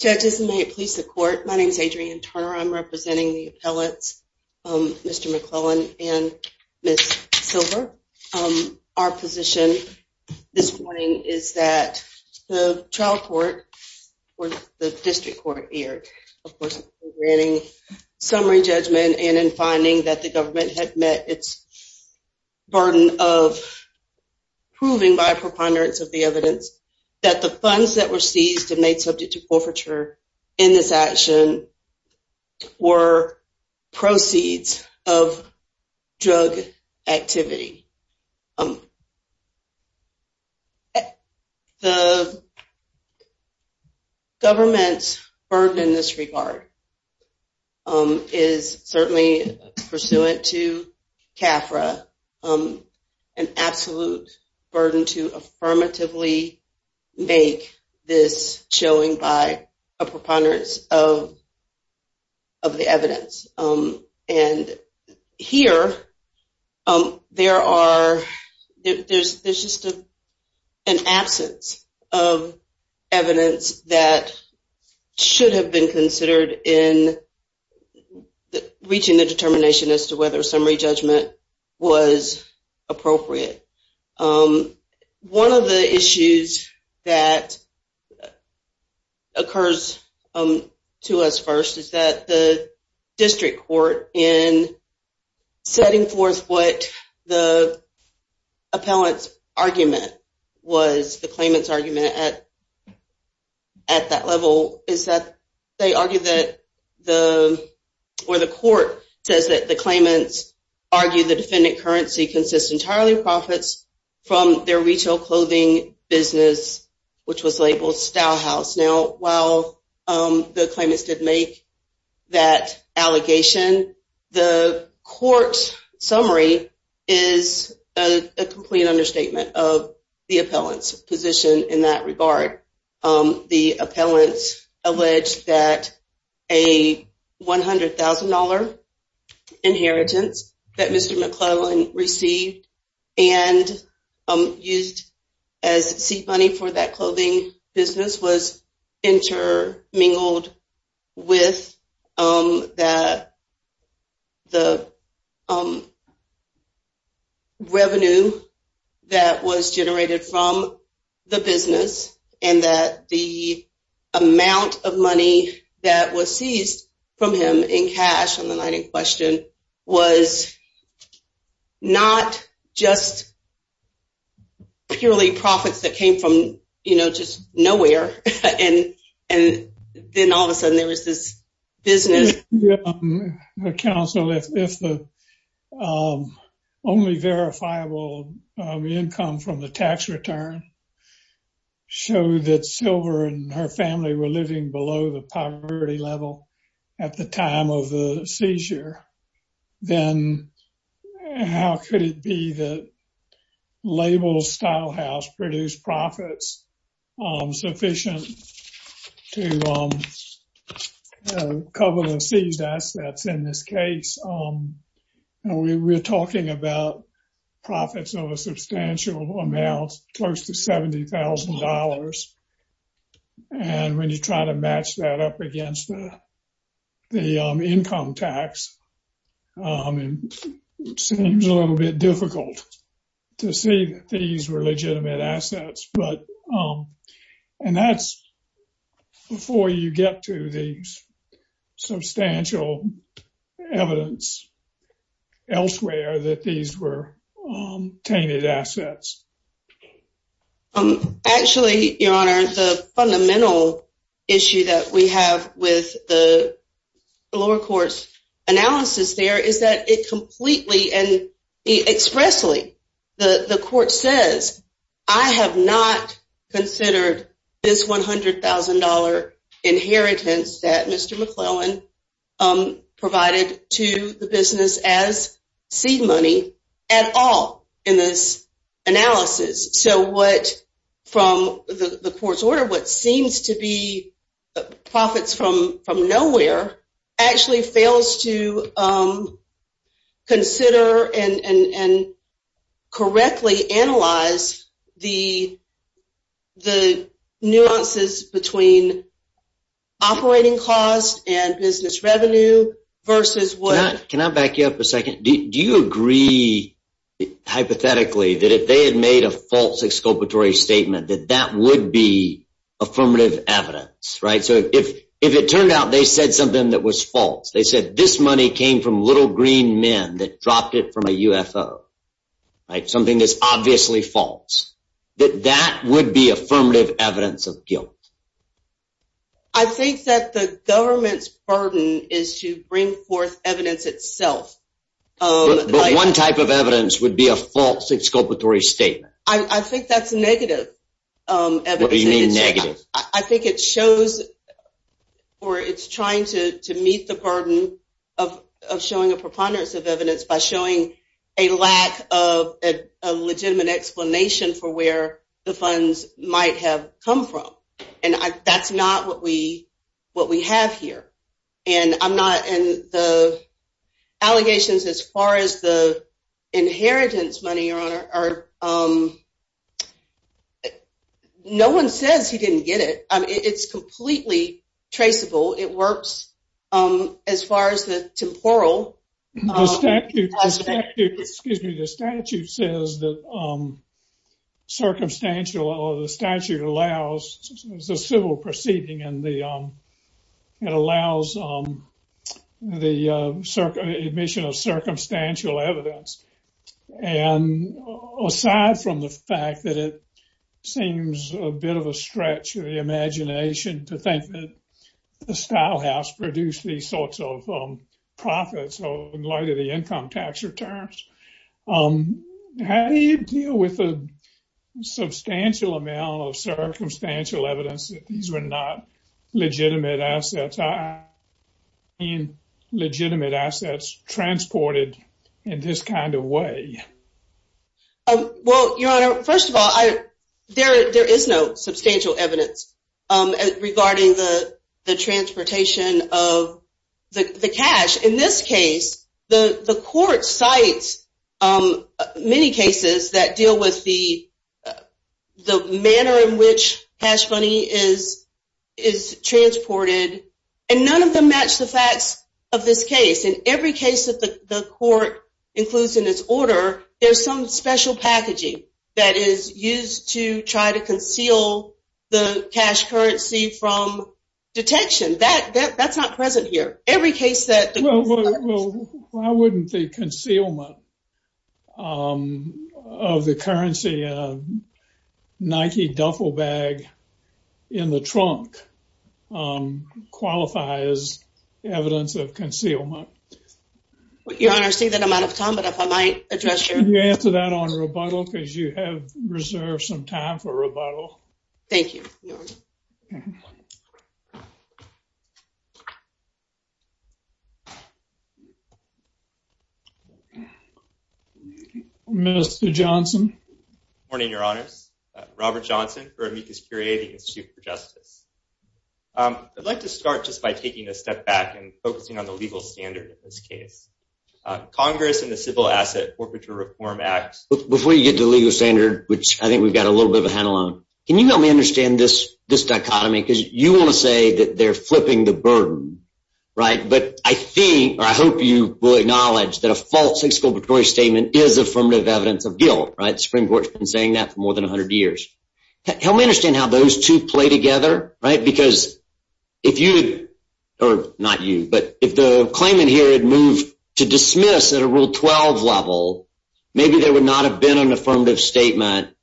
judges may it please the court my name is Adrienne Turner I'm representing the appellates mr. McClellan and miss silver our position this morning is that the trial court or the district court here of course granting summary judgment and in finding that the government had met its burden of proving by a preponderance of the evidence that the funds that were seized and made subject to forfeiture in this action were proceeds of drug activity the government's burden in this make this showing by a preponderance of of the evidence and here there are there's there's just an absence of evidence that should have been considered in reaching the determination as to whether summary judgment was appropriate one of the issues that occurs to us first is that the district court in setting forth what the appellants argument was the claimants argument at at that level is that they argue that the where the court says that the claimants argue the defendant currency consists entirely profits from their retail clothing business which was labeled style house now while the claimants did make that allegation the court summary is a complete understatement of the appellants position in that regard the appellants alleged that a $100,000 inheritance that mr. McClellan received and used as seed money for that clothing business was inter mingled with that the revenue that was generated from the business and that the amount of money that was seized from him in cash on the night in question was not just purely profits that came from you know just nowhere and and then all of a sudden there was this counsel if the only verifiable income from the tax return show that silver and her family were living below the poverty level at the time of the seizure then how could it be the label style house produced profits sufficient to cover the seeds that's that's in this case we're talking about profits of a substantial amount close to $70,000 and when you try to match that up against the income tax seems a little bit difficult to see these were legitimate assets but and that's before you get to the substantial evidence elsewhere that these were tainted assets um actually your honor the fundamental issue that we have with the lower courts analysis there is that it completely and expressly the the court says I have not considered this $100,000 inheritance that mr. McClellan provided to the business as seed money at all in this analysis so what from the court's order what seems to be profits from from nowhere actually fails to consider and and correctly analyze the the nuances between operating cost and business revenue versus what can I back you up a made a false exculpatory statement that that would be affirmative evidence right so if if it turned out they said something that was false they said this money came from little green men that dropped it from a UFO like something that's obviously false that that would be affirmative evidence of guilt I think that the government's burden is to bring forth evidence itself one type of I think that's negative I think it shows or it's trying to meet the burden of showing a preponderance of evidence by showing a lack of a legitimate explanation for where the funds might have come from and I that's not what we what we have here and I'm not in the allegations as far as the inheritance money or honor or no one says he didn't get it it's completely traceable it works as far as the temporal excuse me the statute says that circumstantial or the statute allows the civil proceeding and the it allows the circle admission of circumstantial evidence and aside from the fact that it seems a bit of a stretch of the imagination to think that the style house produced these sorts of profits or in light of the income tax returns um how do you deal with a substantial amount of circumstantial evidence that these were not legitimate assets are in legitimate assets transported in this kind of way well your honor first of all I there there is no substantial evidence regarding the the transportation of the cash in this case the the court cites many cases that and none of them match the facts of this case in every case that the court includes in its order there's some special packaging that is used to try to conceal the cash currency from detection that that's not present here every case that well I wouldn't think concealment of the currency Nike duffel bag in the qualifies evidence of concealment what your honor say that I'm out of time but if I might address you answer that on rebuttal because you have reserved some time for rebuttal thank you mr. Johnson morning your honors Robert Johnson for amicus curiae the Institute for Justice I'd like to start just by taking a step back and focusing on the legal standard in this case Congress and the Civil Asset Orbiter Reform Act before you get the legal standard which I think we've got a little bit of a handle on can you help me understand this this dichotomy because you want to say that they're flipping the burden right but I think I hope you will acknowledge that a false exculpatory statement is affirmative evidence of guilt right Supreme Court been saying that for more than 100 years help me those two play together right because if you or not you but if the claimant here had moved to dismiss at a rule 12 level maybe there would not have been an affirmative statement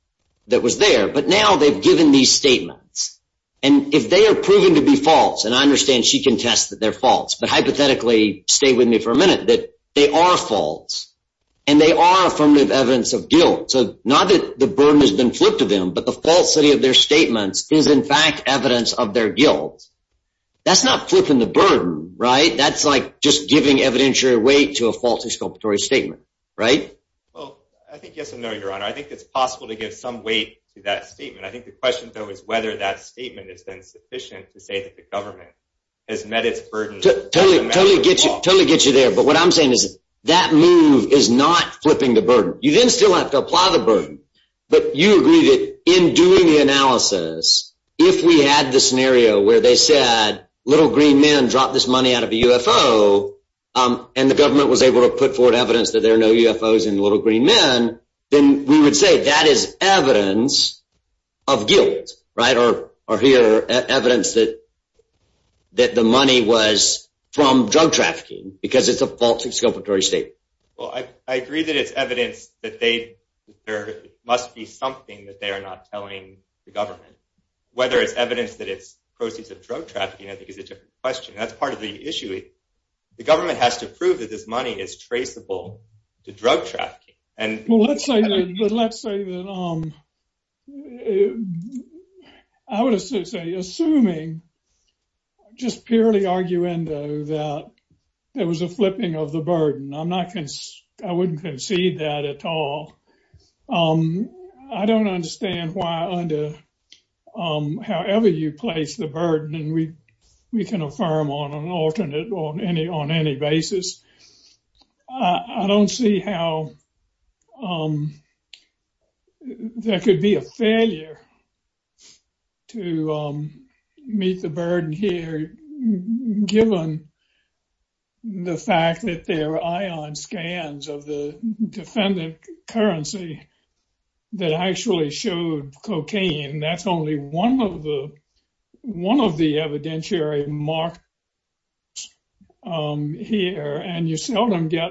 that was there but now they've given these statements and if they are proven to be false and I understand she can test that they're false but hypothetically stay with me for a minute that they are false and they are affirmative evidence of guilt so not that the burden has been flipped to them but the falsity of their statements is in fact evidence of their guilt that's not flipping the burden right that's like just giving evidentiary weight to a false exculpatory statement right I think yes or no your honor I think it's possible to give some weight to that statement I think the question though is whether that statement is then sufficient to say that the government has met its burden totally get you totally get you there but what I'm saying is that move is not flipping the burden you didn't still have to apply the burden but you agree that in doing the analysis if we had the scenario where they said little green men drop this money out of a UFO and the government was able to put forward evidence that there are no UFOs and little green men then we would say that is evidence of guilt right or or here evidence that that the money was from drug trafficking because it's a false I agree that it's evidence that they there must be something that they are not telling the government whether it's evidence that it's proceeds of drug trafficking I think is a different question that's part of the issue it the government has to prove that this money is traceable to drug traffic and I would say assuming just purely arguendo that there was a flipping of the burden I'm not I wouldn't concede that at all I don't understand why under however you place the burden and we we can affirm on an alternate or any on any basis I don't see how there could be a failure to meet the burden here given the fact that their ion scans of the defendant currency that actually showed cocaine that's only one of the one of the evidentiary mark here and you seldom get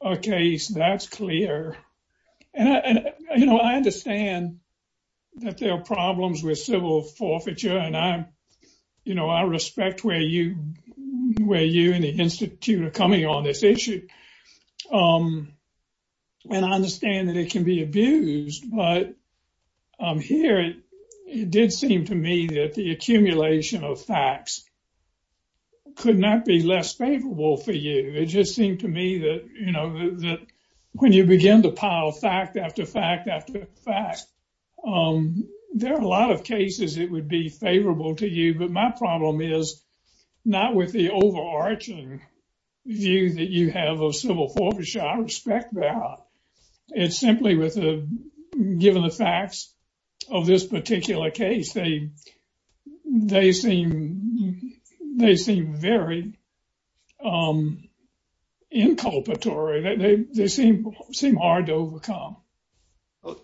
a case that's clear and you know I understand that there are problems with civil forfeiture and I'm you know I respect where you where you and the Institute are coming on this issue and I understand that it can be abused but here it did seem to me that the accumulation of facts could not be less favorable for you it just seemed to me that you know that when you begin to pile fact after fact after fact there are a lot of cases it would be favorable to you but my problem is not with the overarching view that you have of civil forfeiture I respect that it's simply with a given the facts of this particular case they they seem they seem very inculpatory they seem seem hard to overcome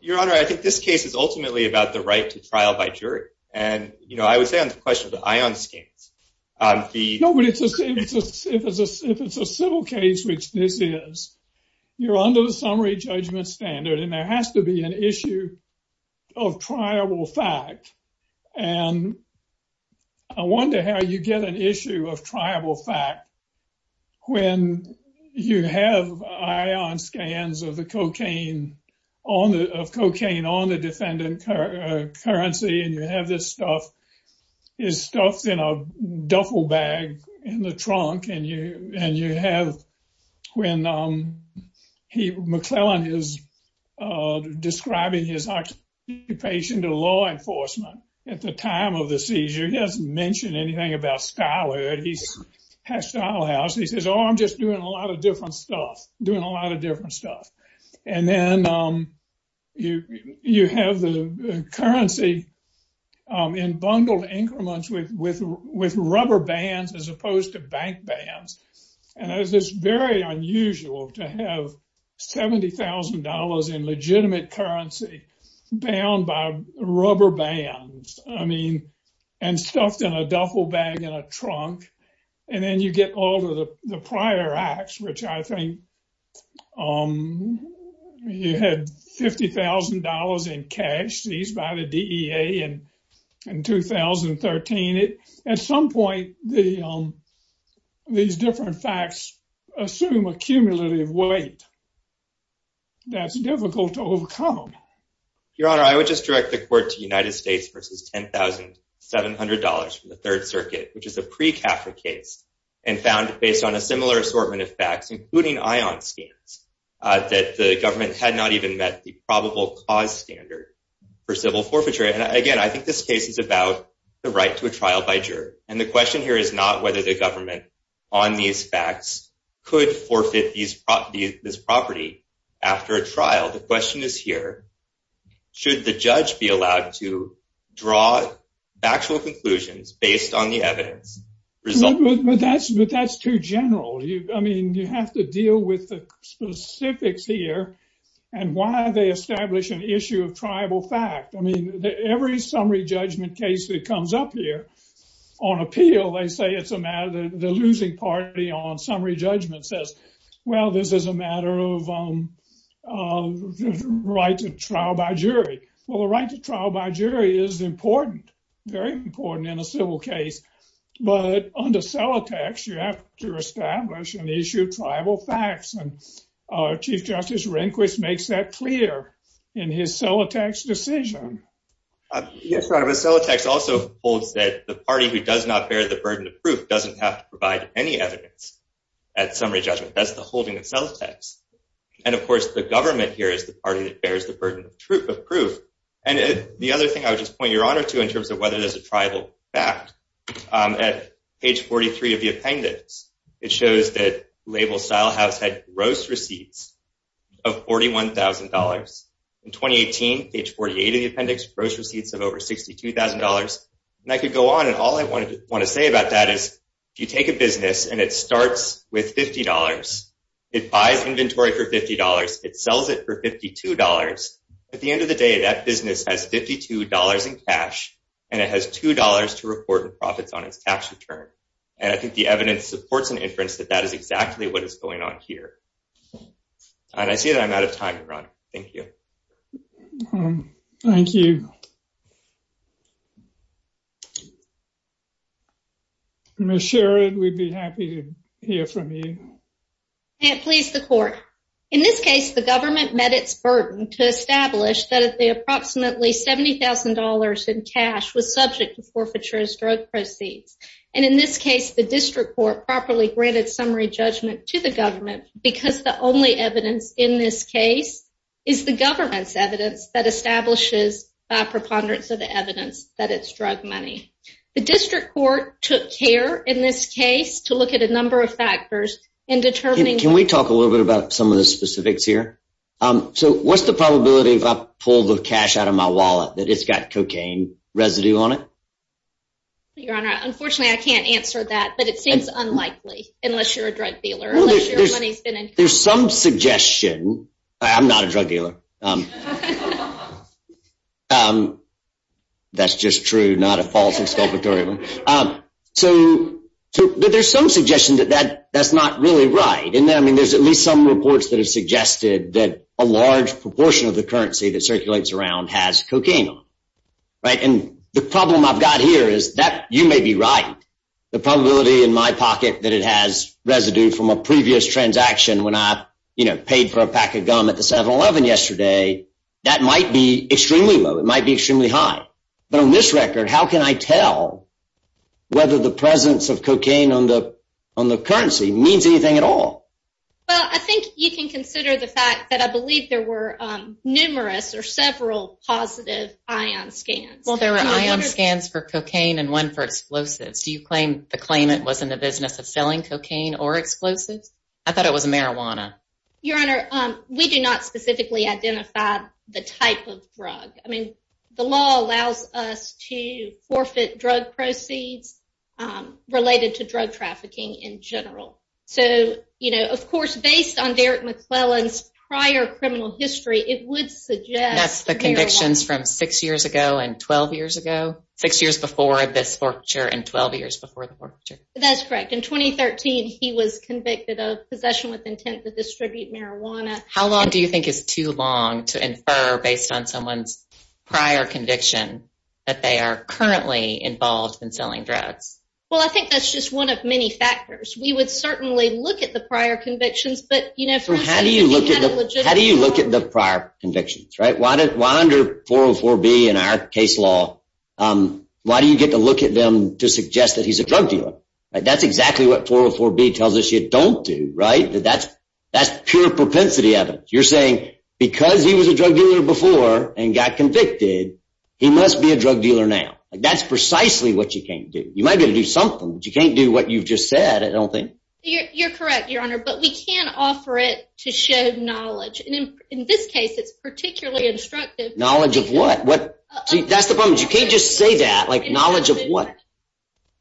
your honor I think this case is ultimately about the right to trial by jury and you know I would say on the question of the ion scans the nobody just if it's a civil case which this is you're under the summary judgment standard and there has to be an issue of triable fact and I wonder how you get an issue of triable fact when you have ion scans of the cocaine on the of cocaine on the defendant currency and you have this stuff is stuffed in a duffel bag in the trunk and you and you have when he McClellan is describing his occupation to law enforcement at the time of the seizure he doesn't mention anything about style he has style house he says oh I'm just doing a lot of different stuff doing a lot of different stuff and then you you have the currency in bundled increments with with with rubber bands as opposed to bank bands and as this very unusual to have $70,000 in legitimate currency bound by rubber bands I mean and stuffed in a duffel bag in a trunk and then you get all of the different facts assume a cumulative weight that's difficult to overcome your honor I would just direct the court to United States versus $10,700 from the Third Circuit which is a pre-kafka case and found based on a similar assortment of facts including ion scans that the government had not even met the probable cause standard for civil forfeiture and again I think this case is about the right to a trial by juror and the question here is not whether the government on these facts could forfeit these property this property after a trial the question is here should the judge be allowed to draw actual conclusions based on the evidence result but that's but that's too general you I have to deal with the specifics here and why they establish an issue of tribal fact I mean every summary judgment case that comes up here on appeal they say it's a matter the losing party on summary judgment says well this is a matter of right to trial by jury well the right to trial by jury is important very important in a civil case but under sell attacks you have to establish an actual facts and Chief Justice Rehnquist makes that clear in his cell attacks decision yes right of a cell attacks also holds that the party who does not bear the burden of proof doesn't have to provide any evidence at summary judgment that's the holding itself text and of course the government here is the party that bears the burden of truth of proof and the other thing I would just point your honor to in terms of whether there's a tribal fact at page 43 of the appendix it shows that label style has had gross receipts of $41,000 in 2018 page 48 of the appendix gross receipts of over $62,000 and I could go on and all I wanted to want to say about that is if you take a business and it starts with $50 it buys inventory for $50 it sells it for $52 at the end of the day that business has $52 in cash and it has $2 to report and profits on its tax return and I think the evidence supports an inference that that is exactly what is going on here and I see that I'm out of time to run thank you thank you miss Sharon we'd be happy to hear from you and please the court in this case the government met its burden to establish that at the approximately $70,000 in cash was subject to forfeitures drug proceeds and in this case the district court properly granted summary judgment to the government because the only evidence in this case is the government's evidence that establishes by preponderance of the evidence that it's drug money the district court took care in this case to look at a number of factors in determining can we talk a little bit about some of the specifics here so what's the probability of up pull the cash out of my wallet that it's got cocaine residue on it your honor unfortunately I can't answer that but it seems unlikely unless you're a drug dealer there's some suggestion I'm not a drug dealer that's just true not a false exculpatory one so there's some suggestion that that that's not really right and then I mean there's at least some reports that have suggested that a large proportion of the currency that circulates around has cocaine on right and the problem I've got here is that you may be right the probability in my pocket that it has residue from a previous transaction when I you know paid for a pack of gum at the 7-eleven yesterday that might be extremely low it might be extremely high but on this record how can I tell whether the presence of cocaine on the on the well I think you can consider the fact that I believe there were numerous or several positive ion scans well there were ion scans for cocaine and one for explosives do you claim the claimant was in the business of selling cocaine or explosives I thought it was marijuana your honor we do not specifically identify the type of drug I mean the law allows us to forfeit drug proceeds related to drug trafficking in general so you know of course based on Derek McClellan's prior criminal history it would suggest that's the convictions from six years ago and 12 years ago six years before this for sure and 12 years before the war that's correct in 2013 he was convicted of possession with intent to distribute marijuana how long do you think is too long to infer based on someone's prior conviction that they are currently involved in selling drugs well I think that's just one of many factors we would certainly look at the prior convictions but you know for how do you look at how do you look at the prior convictions right why did wander 404 be in our case law why do you get to look at them to suggest that he's a drug dealer that's exactly what 404 B tells us you don't do right that's that's pure propensity evidence you're saying because he was a drug dealer before and got convicted he must be a drug dealer now that's precisely what you can't do you might be able to do something you can't do what you've just said I don't think you're correct your honor but we can't offer it to show knowledge in this case it's particularly instructive knowledge of what what that's the problem you can't just say that like knowledge of what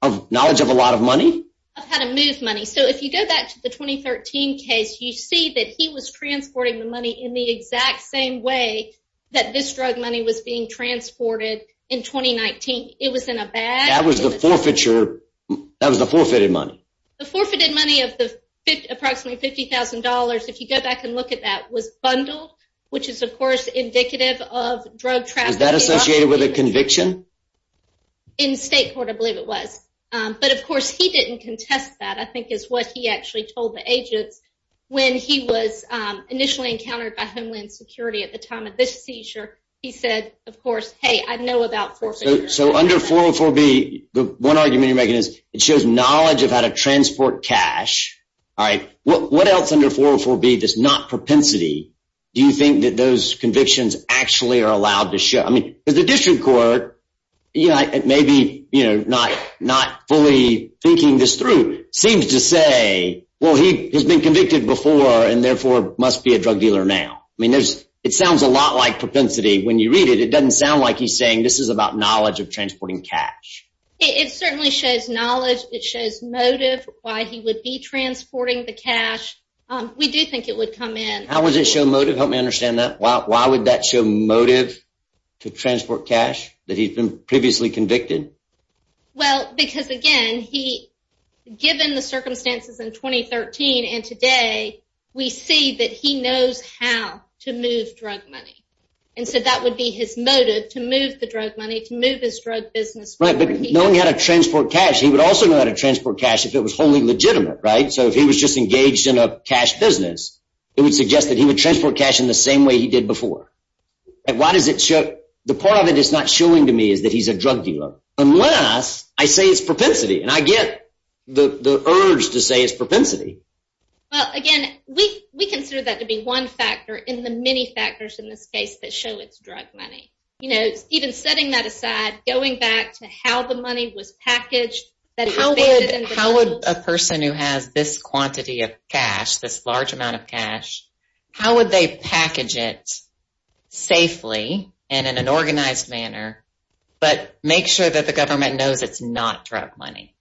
of knowledge of a lot of money how to move money so if you go back to the 2013 case you see that he was transporting the money in the exact same way that this drug money was being transported in 2019 it was in a bag that was the forfeiture that was the forfeited money the forfeited money of the approximately $50,000 if you go back and look at that was bundled which is of course indicative of drug traffic that associated with a conviction in state court I believe it was but of course he didn't contest that I think is what he security at the time of this seizure he said of course hey I know about so under 404 be the one argument you're making is it shows knowledge of how to transport cash all right what else under 404 be this not propensity do you think that those convictions actually are allowed to show I mean there's a district court yeah it may be you know not not fully thinking this through seems to say well he has been convicted before and therefore must be a drug dealer now I it sounds a lot like propensity when you read it it doesn't sound like he's saying this is about knowledge of transporting cash it certainly shows knowledge it shows motive why he would be transporting the cash we do think it would come in how was it show motive help me understand that why would that show motive to transport cash that he's been previously convicted well because again he given the circumstances in 2013 and today we see that he knows how to move drug money and so that would be his motive to move the drug money to move this drug business right but knowing how to transport cash he would also know how to transport cash if it was wholly legitimate right so if he was just engaged in a cash business it would suggest that he would transport cash in the same way he did before and why does it show the part of it is not showing to me is that he's a drug dealer unless I say it's propensity and I get the urge to say it's propensity well again we we consider that to be one factor in the many factors in this case that show it's drug money you know even setting that aside going back to how the money was packaged that how would a person who has this quantity of cash this large amount of cash how would they package it safely and in an organized manner but make sure that the government knows it's not drug money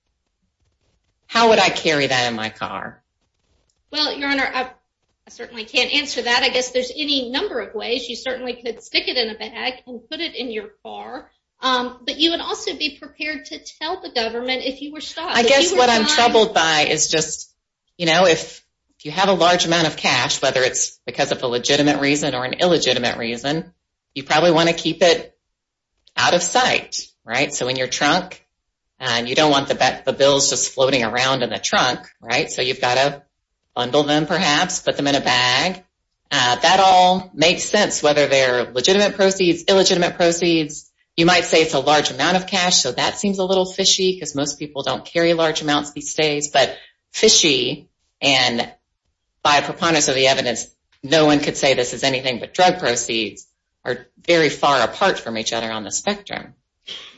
how would I carry that in my car well your honor I certainly can't answer that I guess there's any number of ways you certainly could stick it in a bag and put it in your car but you would also be prepared to tell the government if you were stopped I guess what I'm troubled by is just you know if you have a large amount of cash whether it's because of a legitimate reason or an illegitimate reason you probably want to keep it out of sight right so in your trunk and you don't want the bet the bills just floating around in the trunk right so you've got a bundle them perhaps put them in a bag that all makes sense whether they're legitimate proceeds illegitimate proceeds you might say it's a large amount of cash so that seems a little fishy because most people don't carry large amounts these days but fishy and by a preponderance of the evidence no one could say this is anything but drug proceeds are very far apart from each other on the spectrum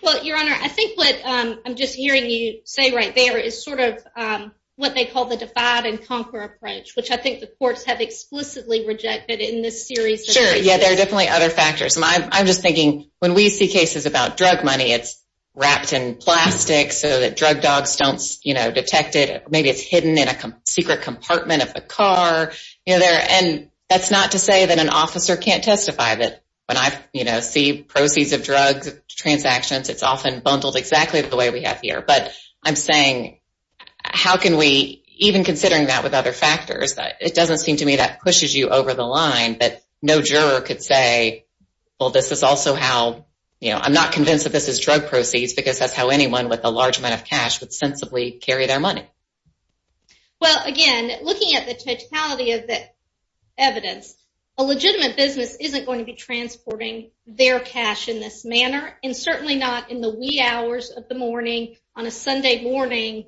well your honor I think what I'm just hearing you say right there is sort of what they call the defied and conquer approach which I think the courts have explicitly rejected in this series sure yeah there are definitely other factors and I'm just thinking when we see cases about drug money it's wrapped in plastic so that drug dogs don't you know detect it maybe it's hidden in a secret compartment of the car you know there and that's not to say that an officer can't testify that when I you know see proceeds of drugs transactions it's often bundled exactly the way we have here but I'm saying how can we even considering that with other factors it doesn't seem to me that pushes you over the line but no juror could say well this is also how you know I'm not convinced that this is drug proceeds because that's how anyone with a large amount of cash would sensibly carry their money well again looking at the totality of that evidence a legitimate business isn't going to be transporting their cash in this manner and certainly not in the wee hours of the morning on a Sunday morning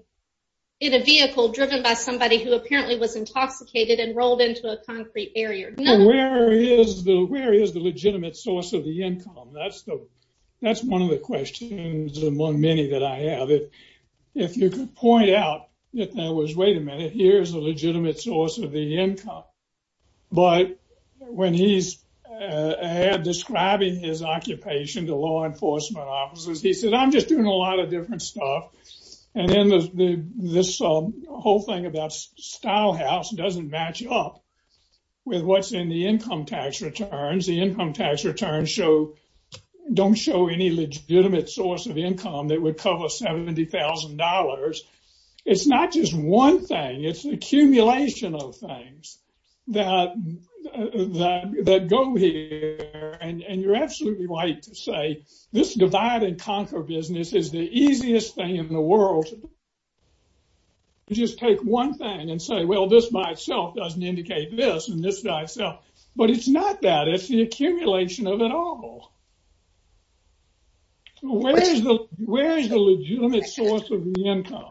in a vehicle driven by somebody who apparently was intoxicated and rolled into a concrete area where is the where is the legitimate source of the income that's the that's one of the questions among many that I have it if you could point out that there was wait a minute here's a legitimate source of the income but when he's describing his occupation to law enforcement officers he said I'm just doing a lot of different stuff and then there's this whole thing about style house doesn't match up with what's in the income tax returns the income tax returns show don't show any legitimate source of income that would cover $70,000 it's not just one thing it's an accumulation of things that that go here and and you're right to say this divided conquer business is the easiest thing in the world just take one thing and say well this by itself doesn't indicate this and this guy so but it's not that it's the accumulation of it all where's the where's the legitimate source of the income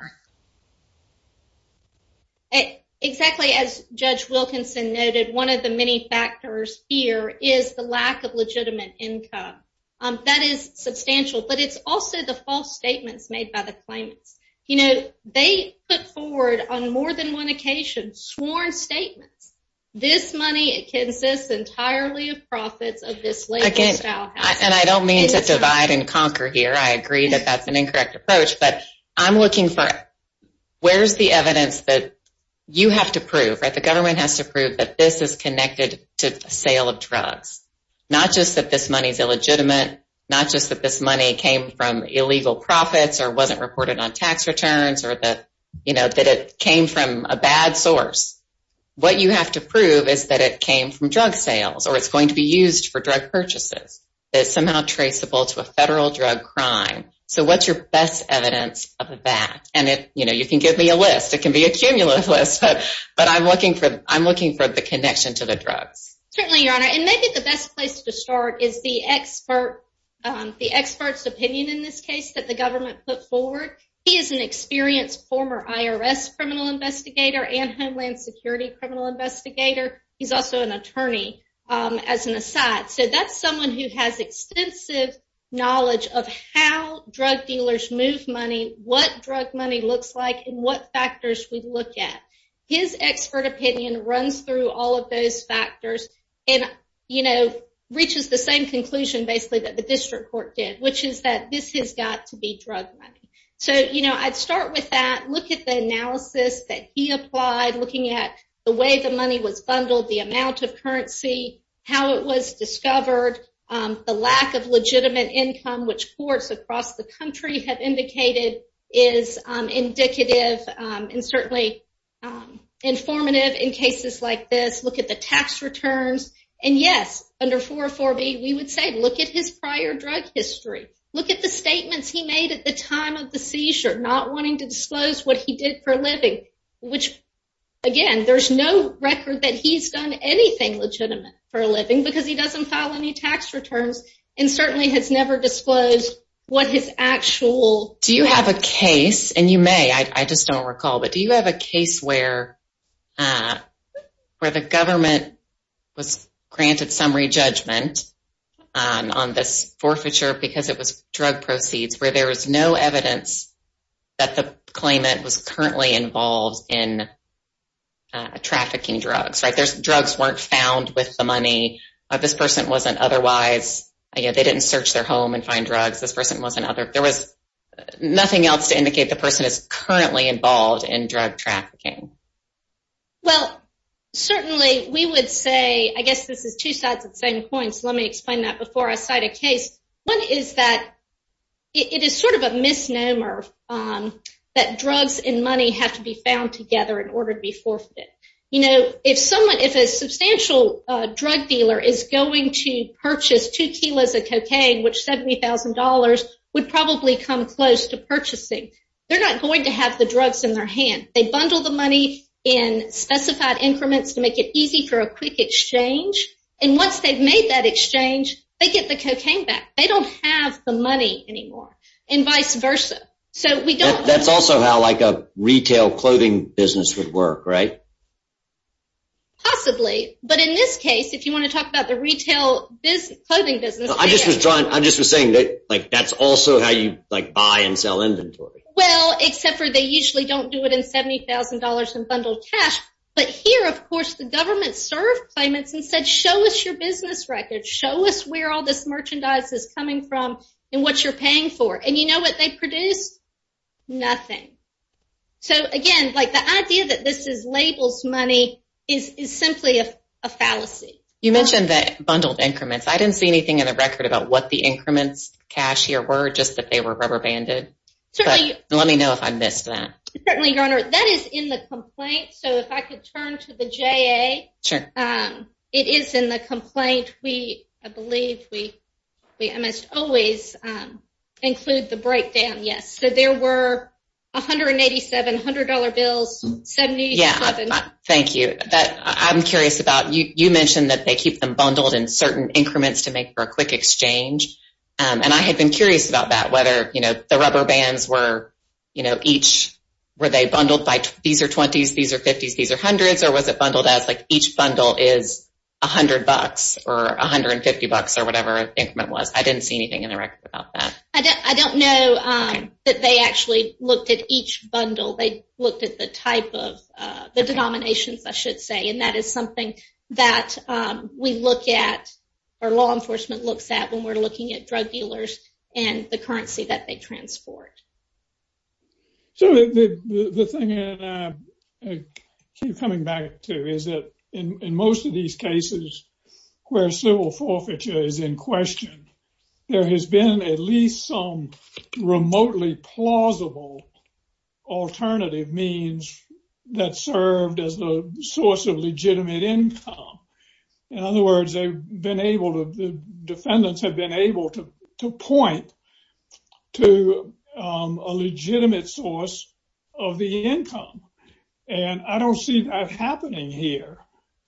exactly as judge Wilkinson noted one of the many factors here is the lack of legitimate income that is substantial but it's also the false statements made by the claimants you know they put forward on more than one occasion sworn statements this money it consists entirely of profits of this way again now and I don't mean to divide and conquer here I agree that that's an incorrect approach but I'm looking for where's the evidence that you have to prove right the government has to prove that this is connected to sale of drugs not just that this money is illegitimate not just that this money came from illegal profits or wasn't reported on tax returns or that you know that it came from a bad source what you have to prove is that it came from drug sales or it's going to be used for drug purchases that somehow traceable to a federal drug crime so what's your best evidence of that and it you know you can give me a list it can be a cumulative list but I'm looking for I'm looking for the connection to the drugs certainly your honor and maybe the best place to start is the expert the experts opinion in this case that the government put forward he is an experienced former IRS criminal investigator and homeland security criminal investigator he's also an attorney as an aside so that's someone who has extensive knowledge of how drug dealers move money what drug money looks like and what factors we look at his expert opinion runs through all of those factors and you know reaches the same conclusion basically that the district court did which is that this has got to be drug money so you know I'd start with that look at the analysis that he applied looking at the way the money was bundled the amount of currency how it was discovered the lack of legitimate income which courts across the country have indicated is indicative and certainly informative in cases like this look at the tax returns and yes under 404 B we would say look at his prior drug history look at the statements he made at the time of the seizure not wanting to disclose what he did for a living which again there's no record that he's done anything legitimate for a living because he doesn't file any tax returns and certainly has never disclosed what his actual do you have a case and you may I just don't recall but do you have a case where where the government was granted summary judgment on this forfeiture because it was drug proceeds where there was no evidence that the claimant was currently involved in trafficking drugs right there's drugs weren't found with the money this person wasn't otherwise you know they didn't search their home and find drugs this person was another there was nothing else to indicate the person is currently involved in drug trafficking well certainly we would say I guess this is two sides of the same coin so let me explain that before I cite a case one is that it is sort of a misnomer that drugs and money have to be found together in order to be forfeit you know if someone if a substantial drug dealer is going to purchase two kilos of cocaine which $70,000 would probably come close to purchasing they're not going to have the drugs in their hand they bundle the money in specified increments to make it easy for a quick exchange and once they've made that exchange they get the cocaine back they don't have the money anymore and vice versa so we don't that's also how like a retail clothing business would work right possibly but in this case if you want to talk about the retail business I just was drawn I just was saying that like that's also how you like buy and sell inventory well except for they usually don't do it in $70,000 in bundled cash but here of course the government served payments and said show us your business record show us where all this merchandise is coming from and what you're paying for and you know what they produce nothing so again like the idea that this is labels money is simply a fallacy you mentioned that bundled increments I didn't see anything in the record about what the increments cashier were just that they were rubber banded so let me know if I missed that certainly your honor that is in the complaint so if I could turn to the JA sure it is in the breakdown yes so there were a hundred and eighty seven hundred dollar bills 70 yeah thank you that I'm curious about you you mentioned that they keep them bundled in certain increments to make for a quick exchange and I had been curious about that whether you know the rubber bands were you know each were they bundled by these are 20s these are 50s these are hundreds or was it bundled as like each bundle is a hundred bucks or a hundred and fifty bucks or I don't know that they actually looked at each bundle they looked at the type of the denominations I should say and that is something that we look at or law enforcement looks at when we're looking at drug dealers and the currency that they transport so the thing coming back to is that in most of these cases where civil forfeiture is in question there has been at least some remotely plausible alternative means that served as the source of legitimate income in other words they've been able to defendants have been able to point to a legitimate source of the income and I don't see that happening here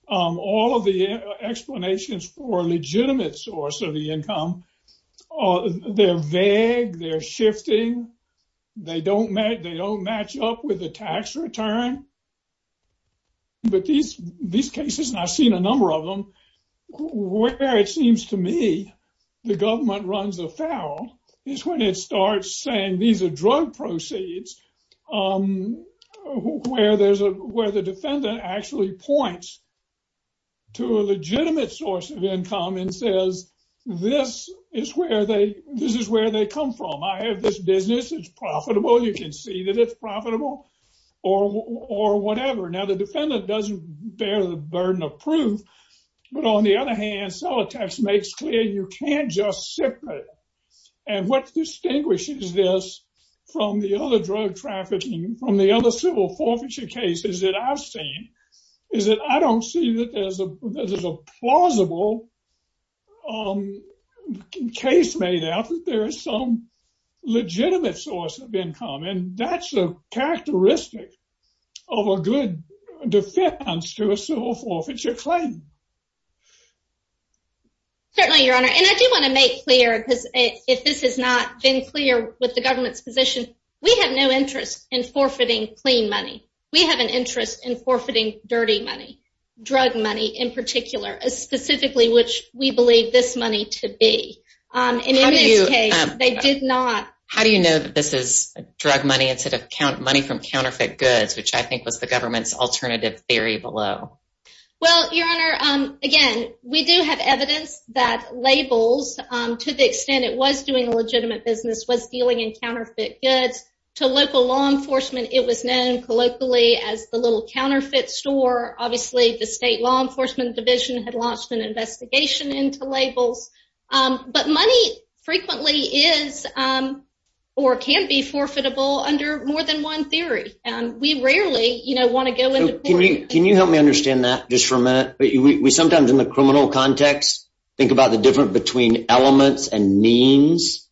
all of the explanations for legitimate source of the income or they're vague they're shifting they don't make they don't match up with the tax return but these these cases and I've seen a number of them where it seems to me the government runs afoul is when it starts saying these are drug proceeds where there's a defendant actually points to a legitimate source of income and says this is where they this is where they come from I have this business it's profitable you can see that it's profitable or or whatever now the defendant doesn't bear the burden of proof but on the other hand so a tax makes clear you can't just separate and what distinguishes this from the other trafficking from the other civil forfeiture cases that I've seen is that I don't see that there's a plausible case made out that there is some legitimate source of income and that's a characteristic of a good defense to a civil forfeiture claim certainly your honor and I do want to make clear because if this is not been clear with the government's position we have no interest in forfeiting clean money we have an interest in forfeiting dirty money drug money in particular as specifically which we believe this money to be how do you know that this is drug money instead of count money from counterfeit goods which I think was the government's alternative theory below well your honor again we do have evidence that labels to the extent it was doing a legitimate business was dealing in counterfeit goods to local law enforcement it was known colloquially as the little counterfeit store obviously the state law enforcement division had launched an investigation into labels but money frequently is or can be forfeitable under more than one theory and we rarely you know want to go in can you can you help me understand that just for a minute but we sometimes in the criminal context think about the difference between elements and means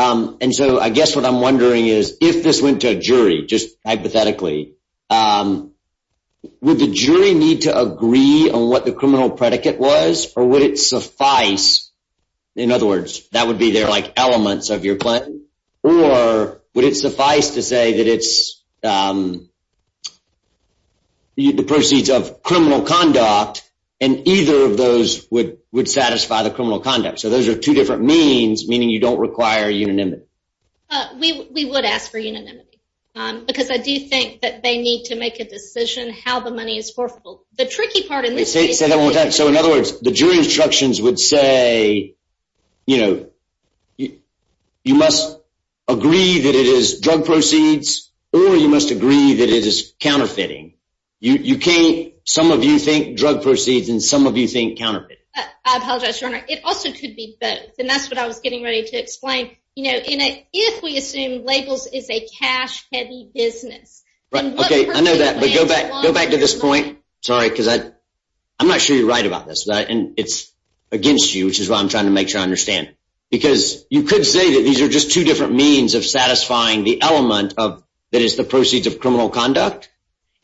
and so I guess what I'm wondering is if this went to a jury just hypothetically would the jury need to agree on what the criminal predicate was or would it suffice in other words that would be there like elements of your plan or would it suffice to say that it's the proceeds of criminal conduct and either of those would would satisfy the criminal conduct so those are two different means meaning you don't require unanimity we would ask for unanimity because I do think that they need to make a decision how the money is for the tricky part in this case so in other words the jury instructions would say you know you must agree that it is drug proceeds or you must agree that it is counterfeiting you can't some of you think drug proceeds and some of you think counterfeit I apologize your honor it also could be both and that's what I was getting ready to explain you know in a if we assume labels is a cash-heavy business right okay I know that but go back go back to this point sorry cuz I I'm not sure you're right about this right and it's against you which is why I'm trying to make sure I understand because you could say that these are just two different means of satisfying the element of that is the proceeds of criminal conduct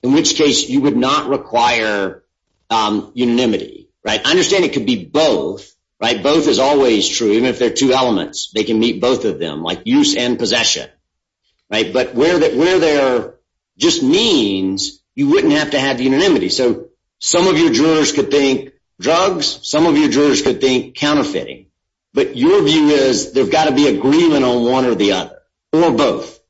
in which case you would not require unanimity right I understand it could be both right both is always true even if they're two elements they can meet both of them like use and possession right but where that where they are just means you wouldn't have to have unanimity so some of your jurors could think drugs some of your jurors could think counterfeiting but your view is there's got to be agreement on one or the other or both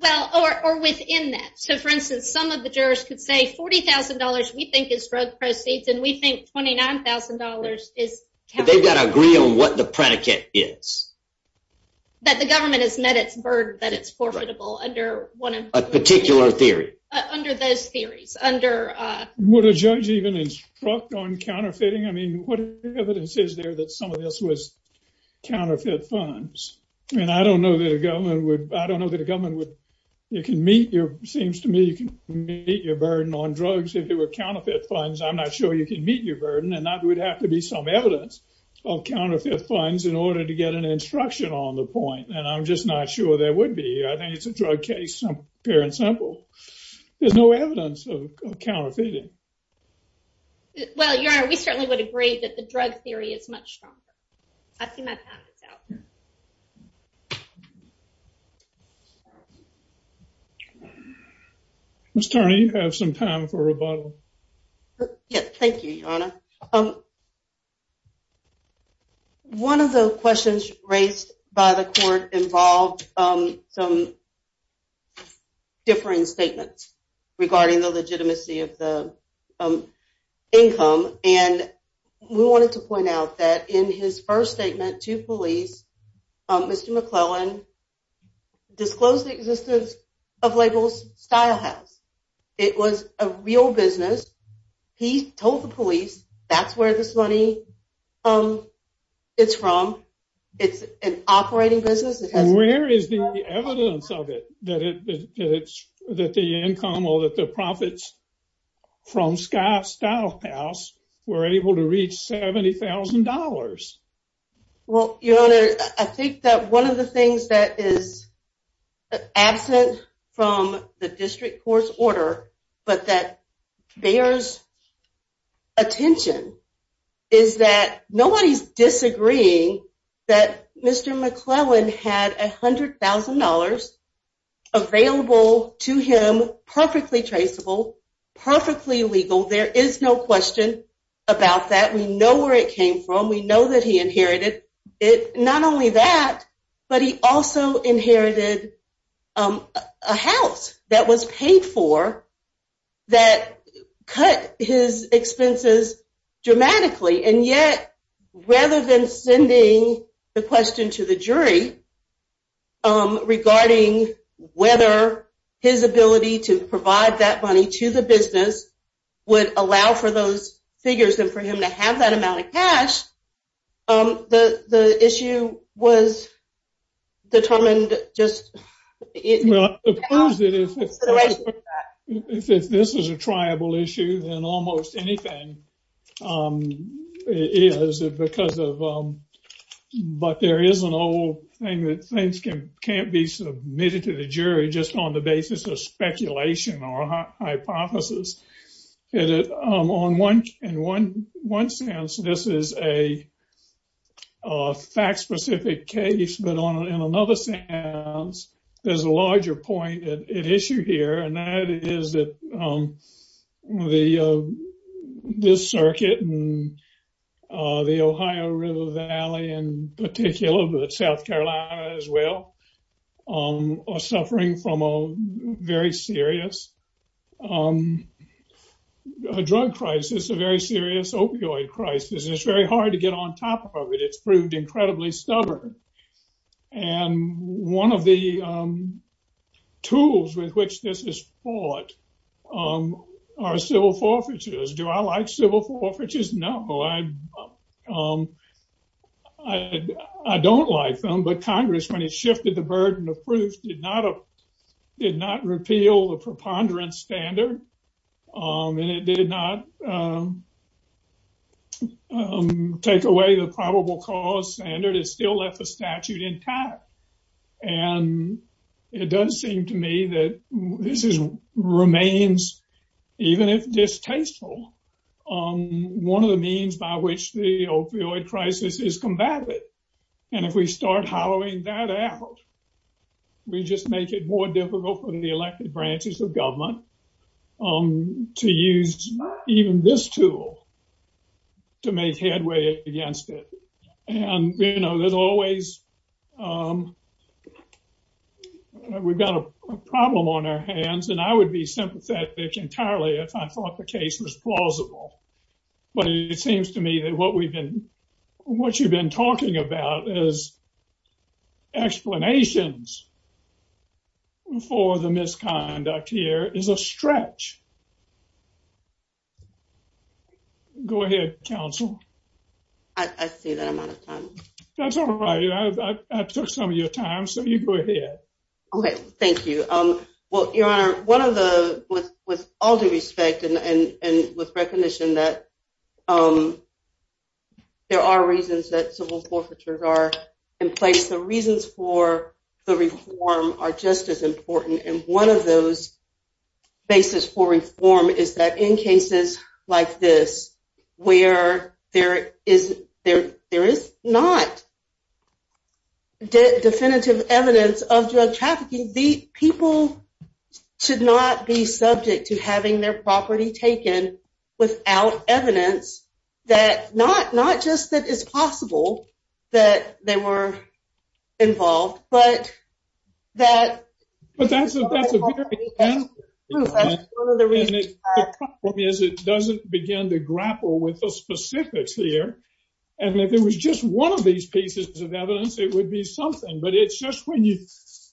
well or within that so for instance some of the jurors could say $40,000 we think is drug proceeds and we think $29,000 is they've got to agree on what the predicate is that the government has met its bird that it's profitable under one of a particular theory under those theories under would a judge even instruct on counterfeiting I mean what evidence is there that some counterfeit funds and I don't know that a government would I don't know that a government would you can meet your seems to me you can meet your burden on drugs if there were counterfeit funds I'm not sure you can meet your burden and that would have to be some evidence of counterfeit funds in order to get an instruction on the point and I'm just not sure there would be I think it's a drug case some parent sample there's no evidence of counterfeiting well yeah we certainly would agree that the drug theory is much stronger I've seen my parents out mr. you have some time for rebuttal yes thank you um one of the questions raised by the court involved some differing statements regarding the we wanted to point out that in his first statement to police mr. McClellan disclosed the existence of labels style house it was a real business he told the police that's where this money um it's from it's an operating business where is the evidence of it that it's that the income or that the profits from sky style house were able to reach $70,000 well you know I think that one of the things that is absent from the district court's order but that bears attention is that nobody's disagreeing that mr. McClellan had $100,000 available to him perfectly traceable perfectly legal there is no question about that we know where it came from we know that he inherited it not only that but he also inherited a house that was paid for that cut his expenses dramatically and yet rather than sending the question to the jury regarding whether his ability to provide that money to the business would allow for those figures and for him to have that amount of cash the the issue was determined just if this is a tribal issue and almost anything is because of but there is an old thing can't be submitted to the jury just on the basis of speculation or hypothesis on one and one one sense this is a fact-specific case but on another sense there's a larger point it issued here and that is that the this circuit and the Ohio River Valley in particular but South Carolina as well are suffering from a very serious drug crisis a very serious opioid crisis it's very hard to get on top of it it's proved incredibly stubborn and one of the tools with which this is fought are civil forfeitures do I like civil forfeitures no I don't like them but Congress when it shifted the burden of proof did not did not repeal the preponderance standard and it did not take away the probable cause standard it still left the statute intact and it does seem to me that this is remains even if distasteful on one of the means by which the opioid crisis is combated and if we start hollowing that out we just make it more difficult for the elected branches of government to use even this tool to make headway against it and you know there's always we've got a problem on our hands and I would be sympathetic entirely if I thought the case was plausible but it seems to me that what we've been what you've been talking about is explanations for the some of your time so you go ahead okay thank you um well your honor one of the with all due respect and and with recognition that there are reasons that civil forfeitures are in place the reasons for the reform are just as important and one of those basis for reform is that in cases like this where there is there there is not definitive evidence of drug trafficking the people should not be subject to having their property taken without evidence that not not just that it's possible that they were involved but that doesn't begin to and if it was just one of these pieces of evidence it would be something but it's just when you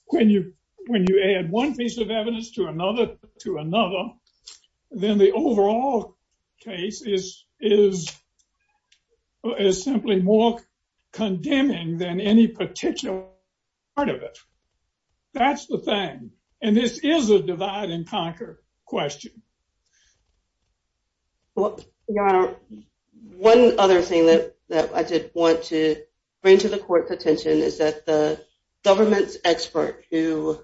when you when you add one piece of evidence to another to another then the overall case is is is simply more condemning than any particular part of it that's the thing and this is a divide-and-conquer question well your honor one other thing that I did want to bring to the court's attention is that the government's expert who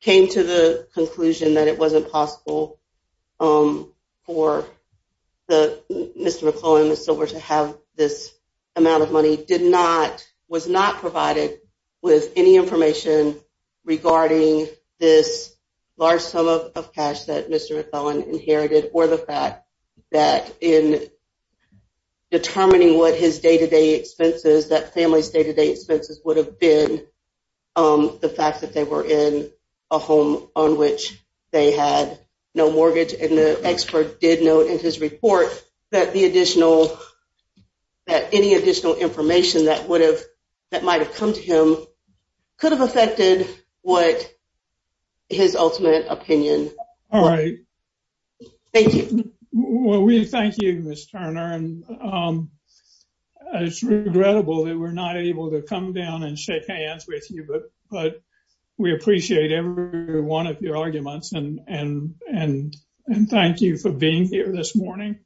came to the conclusion that it wasn't possible for the mr. McClellan the silver to have this amount of money did not was not provided with any information regarding this large sum of cash that mr. McClellan inherited or the fact that in determining what his day-to-day expenses that family's day-to-day expenses would have been the fact that they were in a home on which they had no mortgage and the expert did note in his report that the additional that any additional information that would have that might have come to him could have affected what his ultimate opinion all right well we thank you miss Turner and it's regrettable that we're not able to come down and shake hands with you but but we appreciate every one of your arguments and and and and thank you for being here this morning